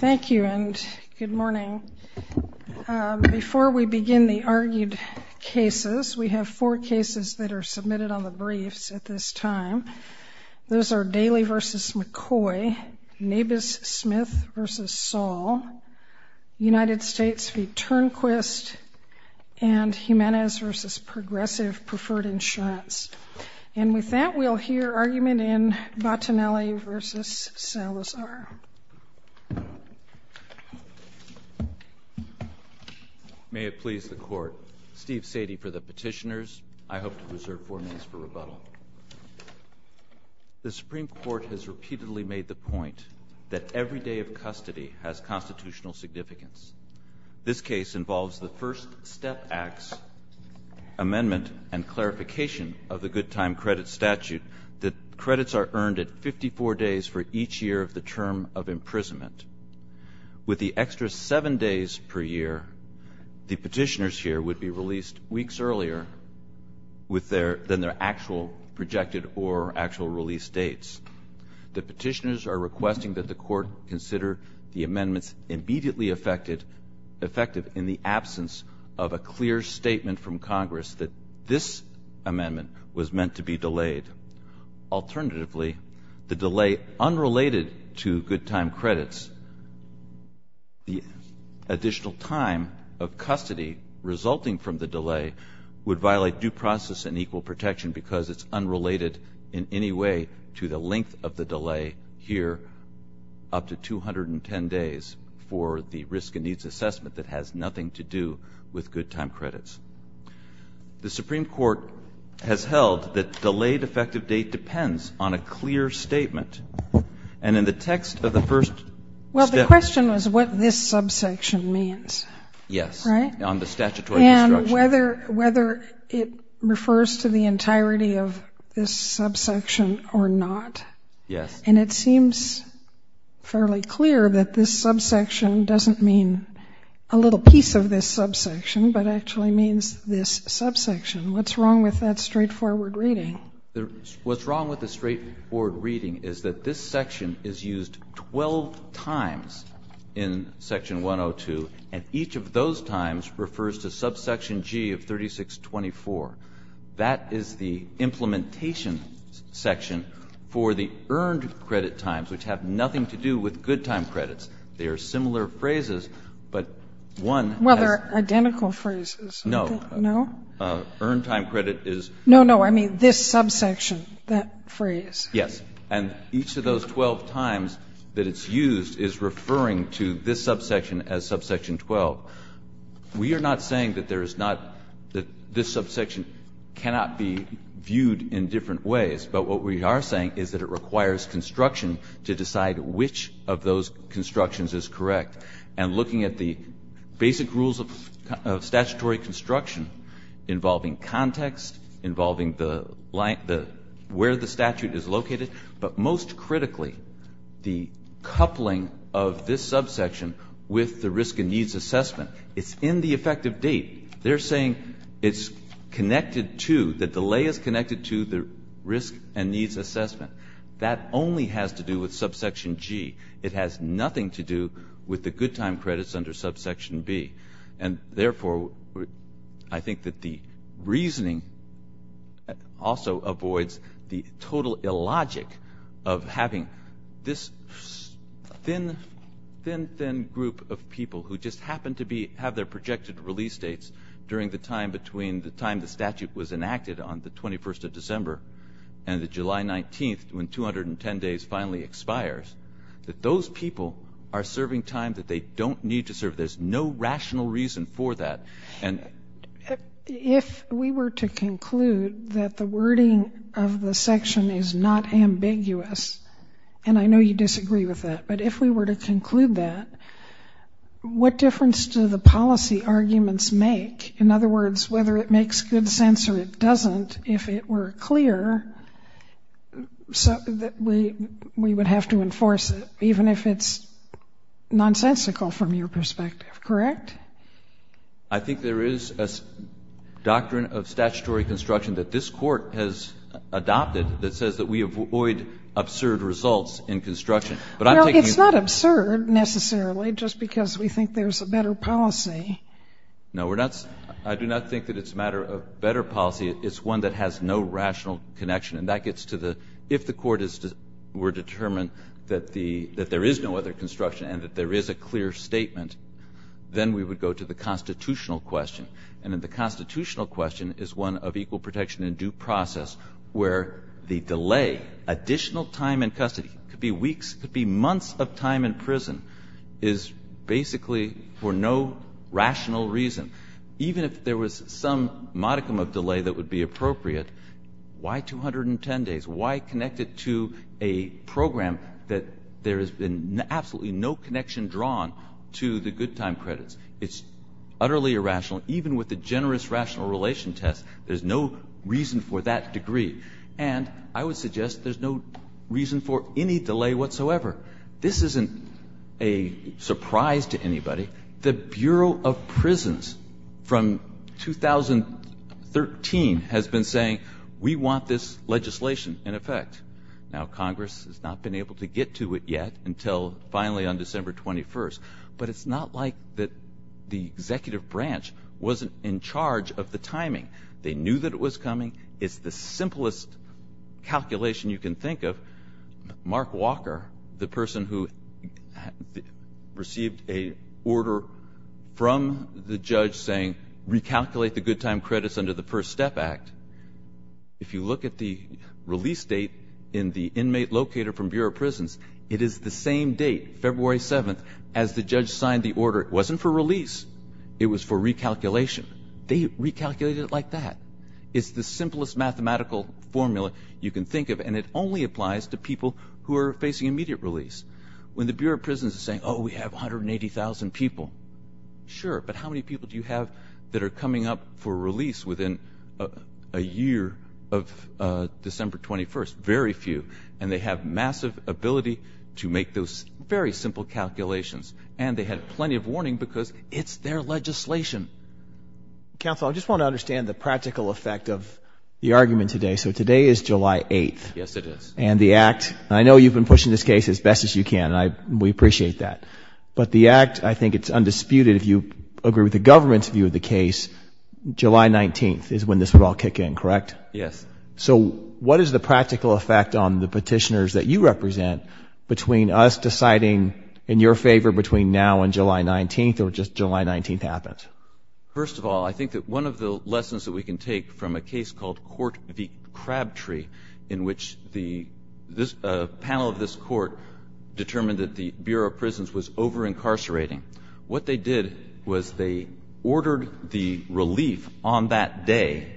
Thank you and good morning. Before we begin the argued cases, we have four cases that are submitted on the briefs at this time. Those are Daley v. McCoy, Nabus-Smith v. Saul, United States v. Turnquist, and Jimenez v. Progressive Preferred Insurance. And with that we'll hear argument in Bottinelli v. Salazar. May it please the court. Steve Sadie for the petitioners. I hope to reserve four minutes for rebuttal. The Supreme Court has repeatedly made the point that every day of custody has constitutional significance. This case involves the first step acts amendment and clarification of the good time credit statute that credits are earned at 54 days for each year of the term of imprisonment. With the extra seven days per year, the petitioners here would be released weeks earlier than their actual projected or actual release dates. The petitioners are requesting that the court consider the amendments immediately effective in the absence of a clear statement from Congress that this be delayed. Alternatively, the delay unrelated to good time credits, the additional time of custody resulting from the delay would violate due process and equal protection because it's unrelated in any way to the length of the delay here up to 210 days for the risk and needs assessment that has nothing to do with good time credits. The Supreme Court has held that delayed effective date depends on a clear statement and in the text of the first step. Well, the question was what this subsection means. Yes. Right? On the statutory instruction. And whether it refers to the entirety of this subsection or not. Yes. And it seems fairly clear that this subsection doesn't mean a little piece of this subsection, but actually means this subsection. What's wrong with that straightforward reading? What's wrong with the straightforward reading is that this section is used 12 times in Section 102 and each of those times refers to subsection G of 3624. That is the implementation section for the earned credit times which have nothing to do with good time credits. They are similar phrases, but one. Well, they're identical phrases. No. No? Earned time credit is. No, no, I mean this subsection, that phrase. Yes. And each of those 12 times that it's used is referring to this subsection as subsection 12. We are not saying that there is not, that this subsection cannot be viewed in different ways, but what we are saying is that it requires construction to decide which of those constructions is correct. And looking at the basic rules of statutory construction involving context, involving the where the statute is located, but most critically the coupling of this subsection with the risk and needs assessment. It's in the effective date. They're saying it's connected to, the delay is connected to the risk and needs assessment. That only has to do with subsection G. It has nothing to do with the good time credits under subsection B. And therefore, I think that the reasoning also avoids the total illogic of having this thin, thin, thin group of people who just happen to be, have their projected release dates during the time between the time the statute was enacted on the 21st of December and the July 19th, when 210 days finally expires, that those people are serving time that they don't need to serve. There's no rational reason for that. And if we were to conclude that the wording of the section is not ambiguous, and I know you disagree with that, but if we were to conclude that, what difference do the whether it makes good sense or it doesn't, if it were clear, we would have to enforce it, even if it's nonsensical from your perspective. Correct? I think there is a doctrine of statutory construction that this Court has adopted that says that we avoid absurd results in construction. Well, it's not absurd necessarily, just because we think there's a better policy. No, we're not. I do not think that it's a matter of better policy. It's one that has no rational connection. And that gets to the, if the Court were determined that there is no other construction and that there is a clear statement, then we would go to the constitutional question. And in the constitutional question is one of equal protection in due process, where the delay, additional time in custody, could be weeks, could be months of time in rational reason. Even if there was some modicum of delay that would be appropriate, why 210 days? Why connect it to a program that there has been absolutely no connection drawn to the good time credits? It's utterly irrational. Even with the generous rational relation test, there's no reason for that degree. And I would suggest there's no reason for any delay whatsoever. This isn't a surprise to anybody. The Bureau of Prisons from 2013 has been saying, we want this legislation in effect. Now Congress has not been able to get to it yet until finally on December 21st. But it's not like that the executive branch wasn't in charge of the timing. They knew that it was coming. It's the simplest calculation you can think of. Mark Walker, the person who received a order from the judge saying recalculate the good time credits under the First Step Act, if you look at the release date in the inmate locator from Bureau of Prisons, it is the same date, February 7th, as the judge signed the order. It wasn't for release. It was for recalculation. They recalculated it like that. It's the simplest mathematical formula you can think of. And it only applies to people who are facing immediate release. When the Bureau of Prisons is saying, oh, we have 180,000 people, sure, but how many people do you have that are coming up for release within a year of December 21st? Very few. And they have massive ability to make those very simple calculations. And they had plenty of warning because it's their legislation. Council, I just want to understand the practical effect of the argument today. So today is July 8th. Yes, it is. And the Act, and I know you've been pushing this case as best as you can, and we appreciate that. But the Act, I think it's undisputed, if you agree with the government's view of the case, July 19th is when this would all kick in, correct? Yes. So what is the practical effect on the petitioners that you represent between us deciding in your favor between now and July 19th or just July 19th happens? First of all, I think that one of the lessons that we can take from a case called Court v. Crabtree in which the panel of this court determined that the Bureau of Prisons was over-incarcerating, what they did was they ordered the relief on that day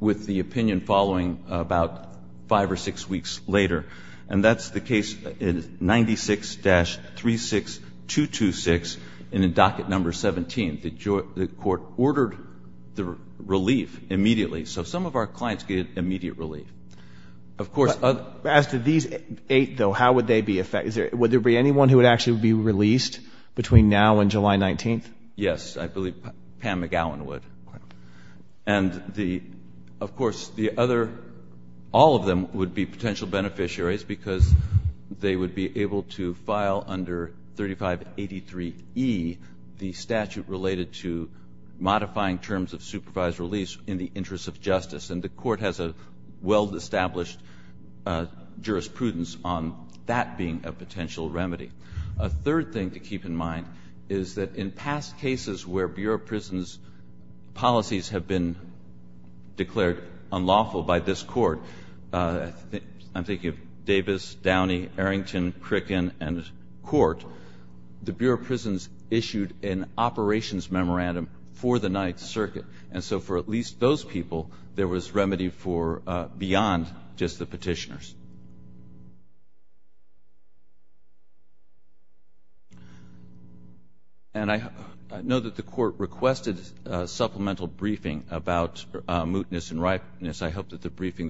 with the opinion following about five or six weeks later. And that's the case in 96-36226 and in docket number 17. The court ordered the relief immediately. So some of our clients get immediate relief. Of course, as to these eight, though, how would they be affected? Would there be anyone who would actually be released between now and July 19th? Yes, I believe Pam McGowan would. And of course, all of them would be potential beneficiaries because they would be able to file under 3583E the statute related to modifying terms of supervised release in the interest of justice. And the court has a well-established jurisprudence on that being a potential remedy. A third thing to keep in mind is that in past cases where Bureau of Prisons policies have been declared unlawful by this court, I'm thinking of Davis, Downey, Arrington, Crickin, and Court, the Bureau of Prisons issued an operations memorandum for the Ninth Circuit. And so, for at least those people, there was remedy for beyond just the petitioners. And I know that the court requested a supplemental briefing about mootness and ripeness. I hope that the briefing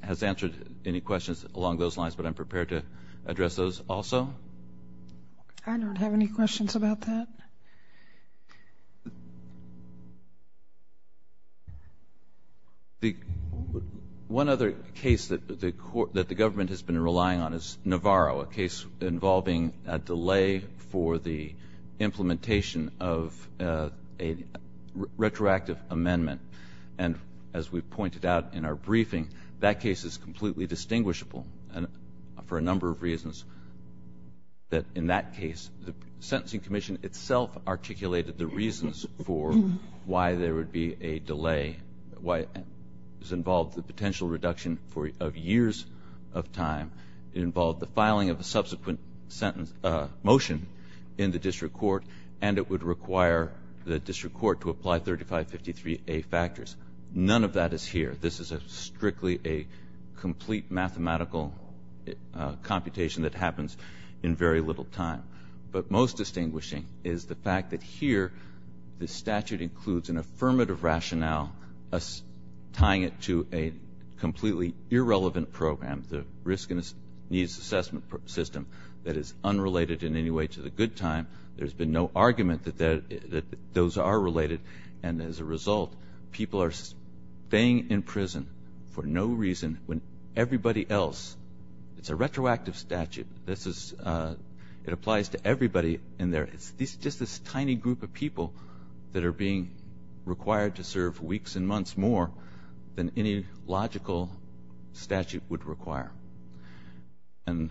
has answered any questions along those lines. But I'm prepared to address those also. I don't have any questions about that. One other case that the government has been relying on is Navarro, a case involving a delay for the implementation of a retroactive amendment. And as we pointed out in our briefing, that case is completely distinguishable for a number of reasons. That in that case, the Sentencing Commission itself articulated the reasons for why there would be a delay. Why it involved the potential reduction of years of time. It involved the filing of a subsequent motion in the district court. And it would require the district court to apply 3553A factors. None of that is here. This is strictly a complete mathematical computation that happens in very little time. But most distinguishing is the fact that here, the statute includes an affirmative rationale tying it to a completely irrelevant program, the risk and needs assessment system, that is unrelated in any way to the good time. There's been no argument that those are related. And as a result, people are staying in prison for no reason when everybody else, it's a retroactive statute. It applies to everybody in there. It's just this tiny group of people that are being required to serve weeks and months more than any logical statute would require. And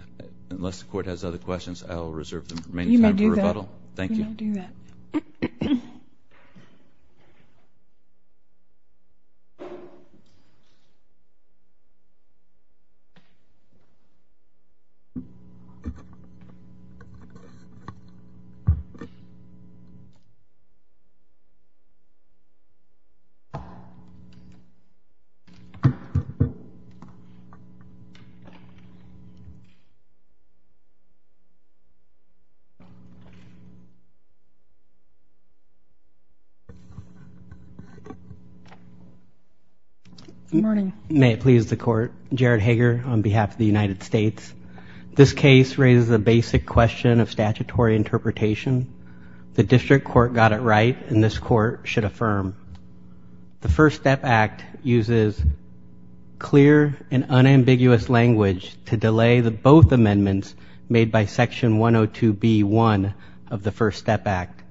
unless the court has other questions, I'll reserve the remaining time for rebuttal. Thank you. Good morning. May it please the court. Jared Hager on behalf of the United States. This case raises a basic question of statutory interpretation. The district court got it right, and this court should affirm. The First Step Act uses clear and unambiguous language to delay the both be one of the First Step Act.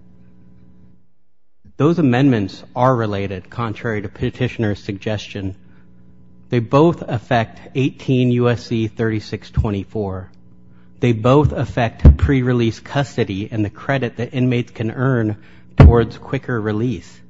Those amendments are related, contrary to petitioner's suggestion. They both affect 18 U.S.C. 3624. They both affect pre-release custody and the credit that inmates can earn towards quicker release.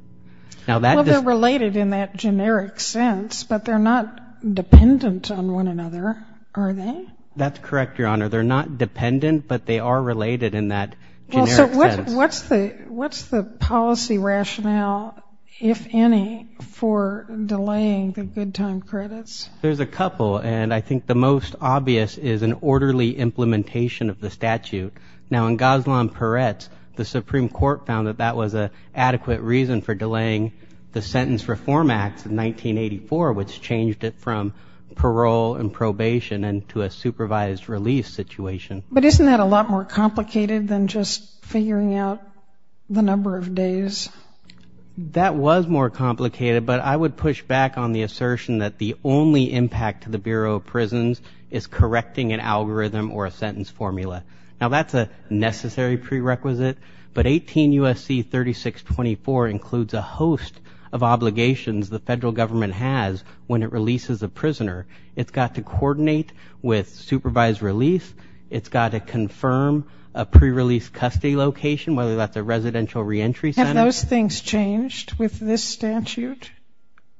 Now, that is related in that generic sense, but they're not dependent on one another, are they? That's correct, Your Honor. They're not dependent, but they are related in that generic sense. What's the policy rationale, if any, for delaying the good time credits? There's a couple, and I think the most obvious is an orderly implementation of the statute. Now, in Goslon Peretz, the Supreme Court found that that was an adequate reason for delaying the Sentence Reform Act of 1984, which changed it from But isn't that a lot more complicated than just figuring out the number of days? That was more complicated, but I would push back on the assertion that the only impact to the Bureau of Prisons is correcting an algorithm or a sentence formula. Now, that's a necessary prerequisite, but 18 U.S.C. 3624 includes a host of obligations the federal government has when it releases a prisoner. It's got to coordinate with supervised release. It's got to confirm a prerelease custody location, whether that's a residential reentry center. Have those things changed with this statute?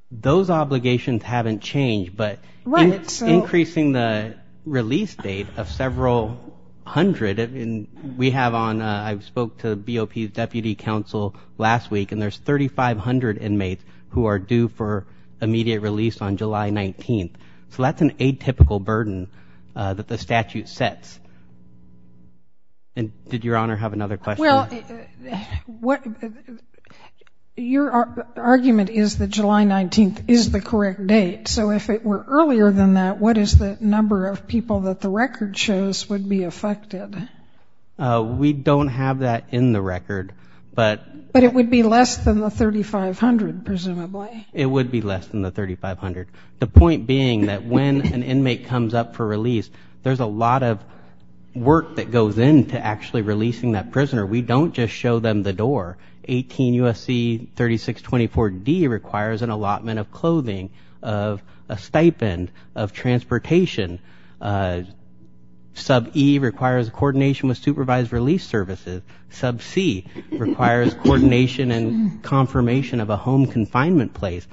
Those obligations haven't changed, but it's increasing the release date of several hundred. I mean, we have on, I spoke to BOP's deputy counsel last week, and there's 3,500 inmates who are due for immediate release on July 19th. So that's an atypical burden that the statute sets. And did Your Honor have another question? Well, your argument is that July 19th is the correct date. So if it were earlier than that, what is the number of people that the record shows would be affected? We don't have that in the record, but... Less than the 3,500, presumably. It would be less than the 3,500. The point being that when an inmate comes up for release, there's a lot of work that goes into actually releasing that prisoner. We don't just show them the door. 18 U.S.C. 3624 D requires an allotment of clothing, of a stipend, of transportation. Sub E requires coordination with supervised release services. Sub C requires coordination and confirmation of a home confinement place.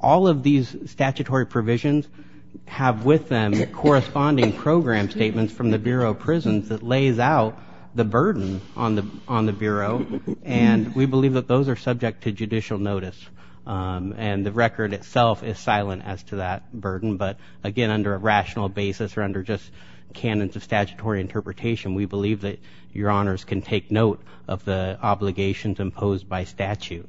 All of these statutory provisions have with them corresponding program statements from the Bureau of Prisons that lays out the burden on the Bureau. And we believe that those are subject to judicial notice. And the record itself is silent as to that burden. But again, under a rational basis or under just canons of statutory interpretation, we believe that your honors can take note of the obligations imposed by statute.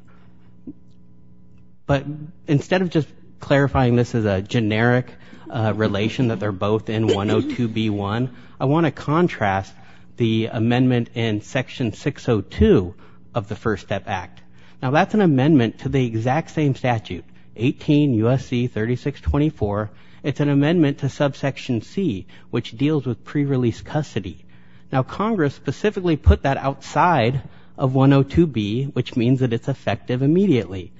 But instead of just clarifying this as a generic relation that they're both in 102B1, I want to contrast the amendment in Section 602 of the First Step Act. Now, that's an amendment to the exact same statute, 18 U.S.C. 3624. It's an amendment to Subsection C, which deals with prerelease custody. Now, Congress specifically put that outside of 102B, which means that it's effective immediately.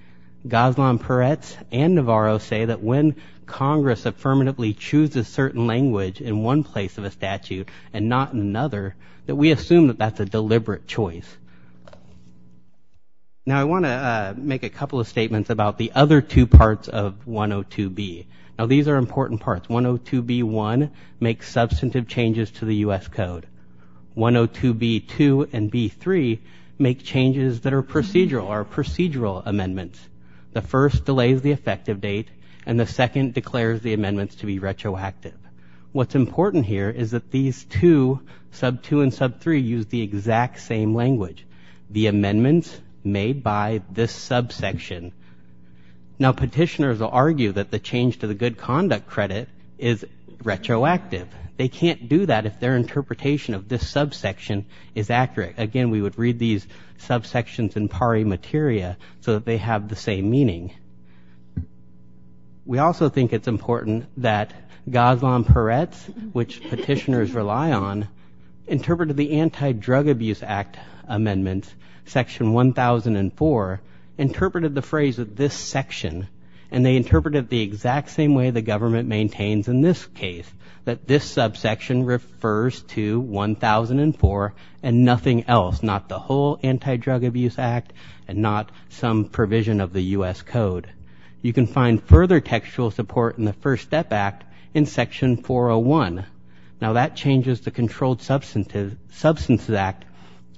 Ghazlan Peretz and Navarro say that when Congress affirmatively chooses certain language in one place of a statute and not in another, that we assume that that's a deliberate choice. Now, I want to make a couple of statements about the other two parts of 102B. Now, these are important parts. 102B1 makes substantive changes to the U.S. Code. 102B2 and B3 make changes that are procedural, are procedural amendments. The first delays the effective date, and the second declares the amendments to be retroactive. What's important here is that these two, Sub 2 and Sub 3, use the exact same language, the amendments made by this subsection. Now, petitioners will argue that the change to the good conduct credit is retroactive. They can't do that if their interpretation of this subsection is accurate. Again, we would read these subsections in pari materia so that they have the same meaning. We also think it's important that Ghazlan Peretz, which petitioners rely on, interpreted the Anti-Drug Abuse Act amendments, Section 1004, interpreted the phrase of this section, and they interpreted it the exact same way the government maintains in this case, that this subsection refers to 1004 and nothing else, not the whole Anti-Drug Abuse Act and not some provision of the U.S. Code. You can find further textual support in the First Step Act in Section 401. Now, that changes the Controlled Substances Act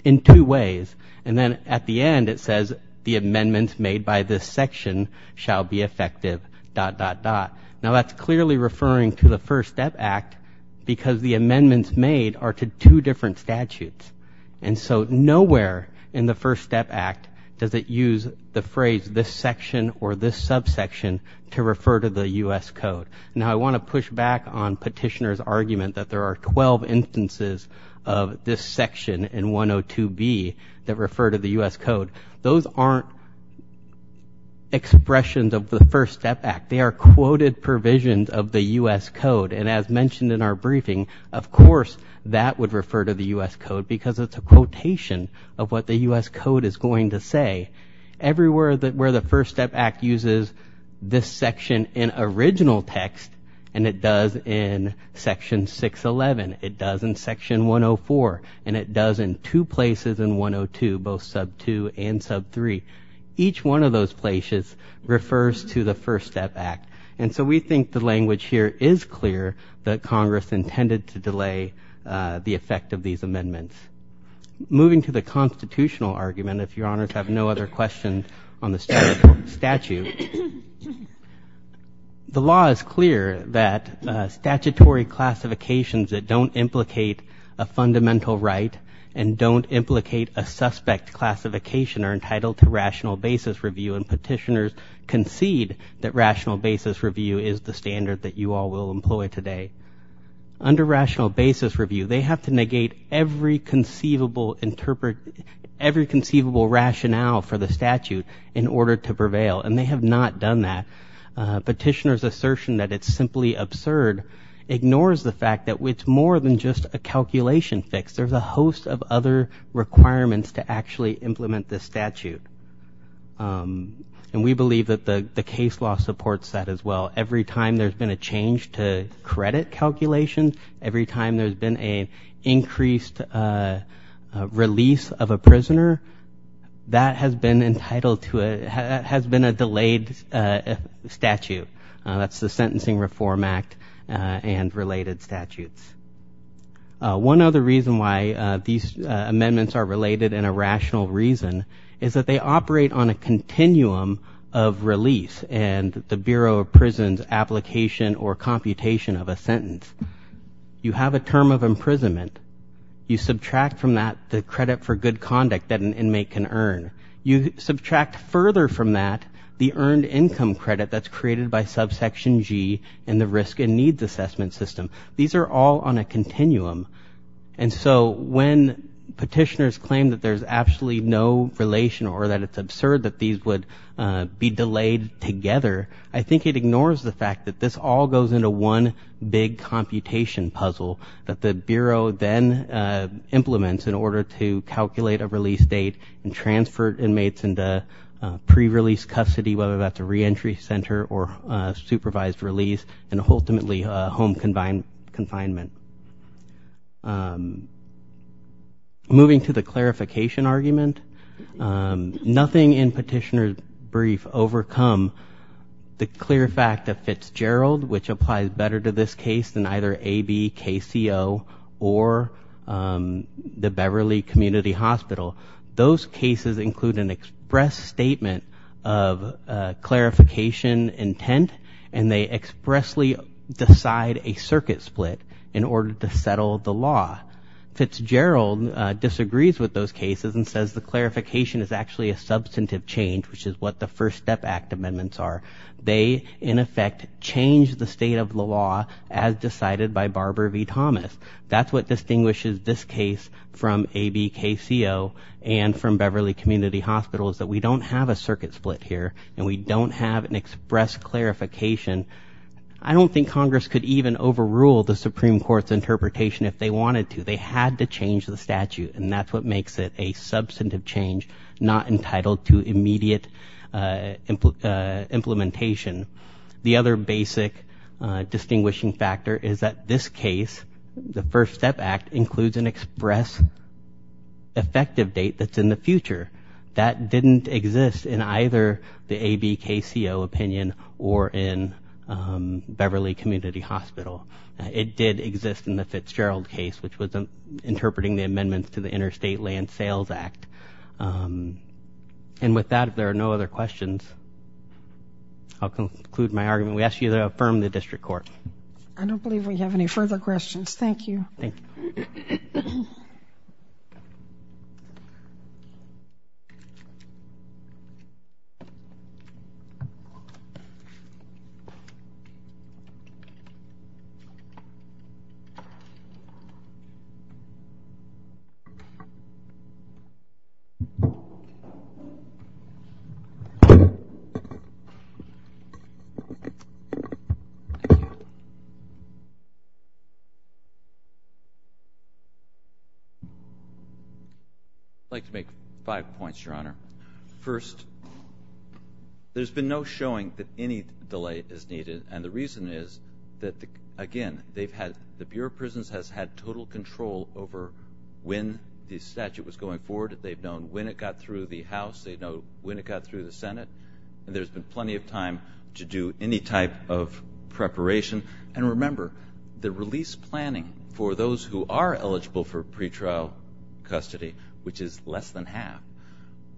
in two ways. And then at the end, it says, the amendments made by this section shall be effective, dot, dot, dot. Now, that's clearly referring to the First Step Act because the amendments made are to two different statutes. And so nowhere in the First Step Act does it use the phrase, this section or this subsection, to refer to the U.S. Code. Now, I want to push back on petitioners' argument that there are 12 instances of this section in 102B that refer to the U.S. Code. Those aren't expressions of the First Step Act. They are quoted provisions of the U.S. Code. And as mentioned in our briefing, of course, that would refer to the U.S. Code because it's a quotation of what the U.S. Code is going to say. Everywhere where the First Step Act uses this section in original text, and it does in Section 611, it does in Section 104, and it does in two places in 102, both sub-2 and sub-3, each one of those places refers to the First Step Act. And so we think the language here is clear that Congress intended to delay the effect of these amendments. Moving to the constitutional argument, if your honors have no other questions on the statutory classifications that don't implicate a fundamental right and don't implicate a suspect classification are entitled to rational basis review, and petitioners concede that rational basis review is the standard that you all will employ today. Under rational basis review, they have to negate every conceivable rationale for the statute in order to prevail, and they have not done that. Petitioner's assertion that it's simply absurd ignores the fact that it's more than just a calculation fix. There's a host of other requirements to actually implement this statute. And we believe that the case law supports that as well. Every time there's been a change to credit calculations, every time there's been an increased release of a prisoner, that has been entitled to a, has been a delayed statute. That's the Sentencing Reform Act and related statutes. One other reason why these amendments are related in a rational reason is that they operate on a continuum of release and the Bureau of Prisons application or computation of a sentence. You have a term of imprisonment. You subtract from that the credit for good conduct that an inmate can earn. You subtract further from that the earned income credit that's created by subsection G in the risk and needs assessment system. These are all on a continuum. And so when petitioners claim that there's absolutely no relation or that it's absurd that these would be delayed together, I think it ignores the fact that this all goes into one big computation puzzle that the Bureau then implements in order to calculate a release date and transfer inmates into pre-release custody, whether that's a reentry center or a supervised release and ultimately a home confinement. Moving to the clarification argument, nothing in petitioner's brief overcome the clear fact of Fitzgerald, which applies better to this case than either ABKCO or the Beverly Community Hospital. Those cases include an express statement of clarification intent and they expressly decide a circuit split in order to settle the law. Fitzgerald disagrees with those cases and says the clarification is actually a substantive change, which is what the First Step Act amendments are. They, in effect, change the state of the law as decided by Barbara V. Thomas. That's what distinguishes this case from ABKCO and from Beverly Community Hospital is that we don't have a circuit split here and we don't have an express clarification. I don't think Congress could even overrule the Supreme Court's interpretation if they wanted to. They had to change the statute and that's what makes it a substantive change, not entitled to immediate implementation. The other basic distinguishing factor is that this case, the First Step Act, includes an express effective date that's in the future. That didn't exist in either the ABKCO opinion or in Beverly Community Hospital. It did exist in the Fitzgerald case, which was interpreting the amendments to the Interstate Land Sales Act. With that, if there are no other questions, I'll conclude my argument. We ask you to affirm the district court. I don't believe we have any further questions. Thank you. I'd like to make five points, Your Honor. First, there's been no showing that any delay is needed and the reason is that, again, the Bureau of Prisons has had total control over when the statute was going forward. They've known when it got through the House. They know when it got through the Senate. There's been plenty of time to do any type of preparation. Remember, the release planning for those who are eligible for pretrial custody, which is less than half,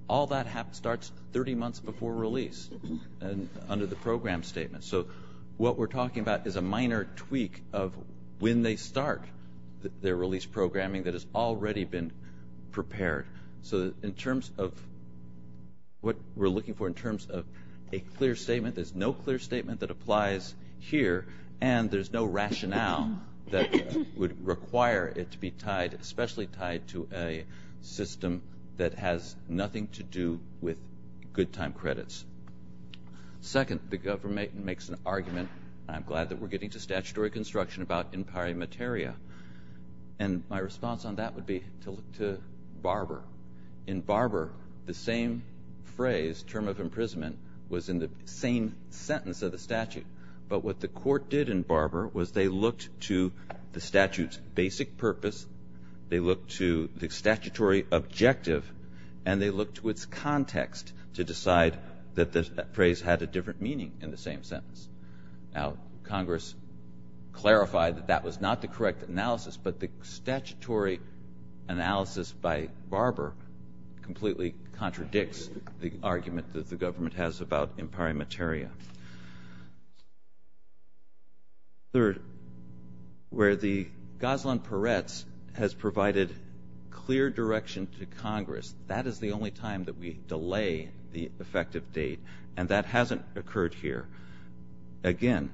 all that starts 30 months before release under the program statement. What we're talking about is a minor tweak of when they start their release programming that has already been prepared. In terms of what we're looking for in terms of a clear statement, there's no clear statement that applies here and there's no rationale that would require it to be tied, especially tied to a system that has nothing to do with good time credits. Second, the government makes an argument, and I'm glad that we're getting to statutory construction about impari materia, and my response on that would be to look to Barber. In Barber, the same phrase, term of imprisonment, was in the same sentence of the statute, but what the court did in Barber was they looked to the statute's basic purpose, they looked to the statutory objective, and they looked to its context to decide that that phrase had a different meaning in the same sentence. Now, Congress clarified that that was not the correct analysis, but the statutory analysis by Barber completely contradicts the argument that the government has about impari materia. Third, where the Goseland-Peretz has provided clear direction to Congress, that is the only time that we delay the effective date, and that hasn't occurred here. Again,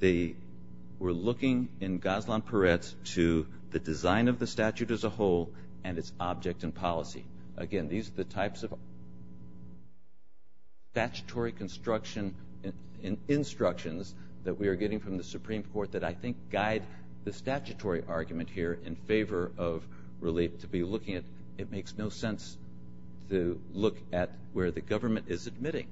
we're looking in Goseland-Peretz to the design of the statute as a whole and its object and policy. Again, these are the types of statutory construction and instructions that we are getting from the Supreme Court that I think guide the statutory argument here in favor of really to be looking at, it makes no sense to look at where the government is admitting.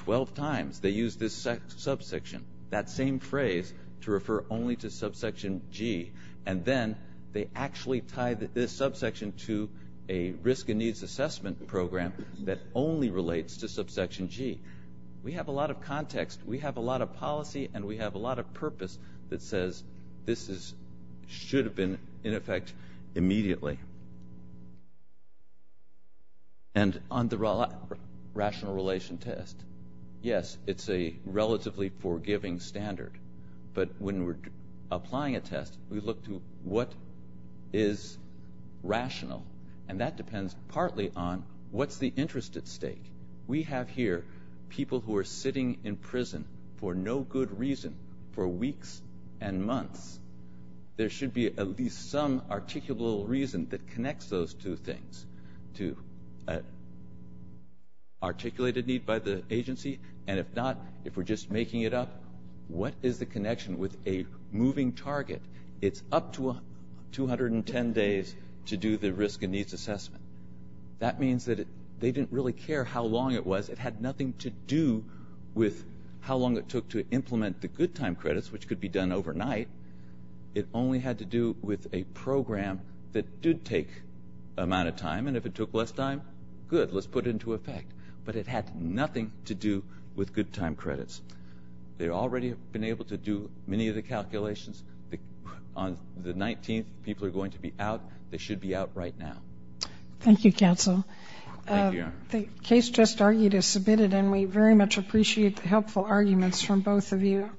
Twelve times they use this subsection, that same phrase, to refer only to subsection G, and then they actually tie this subsection to a risk and needs assessment program that only relates to subsection G. We have a lot of context, we have a lot of policy, and we have a lot of purpose that says this should have been in effect immediately. And on the rational relation test, yes, it's a relatively forgiving standard, but when we're applying a test, we look to what is rational, and that depends partly on what's the interest at stake. We have here people who are sitting in prison for no good reason for weeks and months. There should be at least some articulable reason that connects those two things to articulated need by the agency, and if not, if we're just making it up, what is the connection with a moving target? It's up to 210 days to do the risk and needs assessment. That means that they didn't really care how long it was. It had nothing to do with how long it took to implement the good time credits, which could be done overnight. It only had to do with a program that did take an amount of time, and if it took less time, good, let's put it into effect. But it had nothing to do with good time credits. They've already been able to do many of the calculations. On the 19th, people are going to be out. They should be out right now. Thank you, counsel. The case just argued is submitted, and we very much appreciate the helpful arguments from both of you.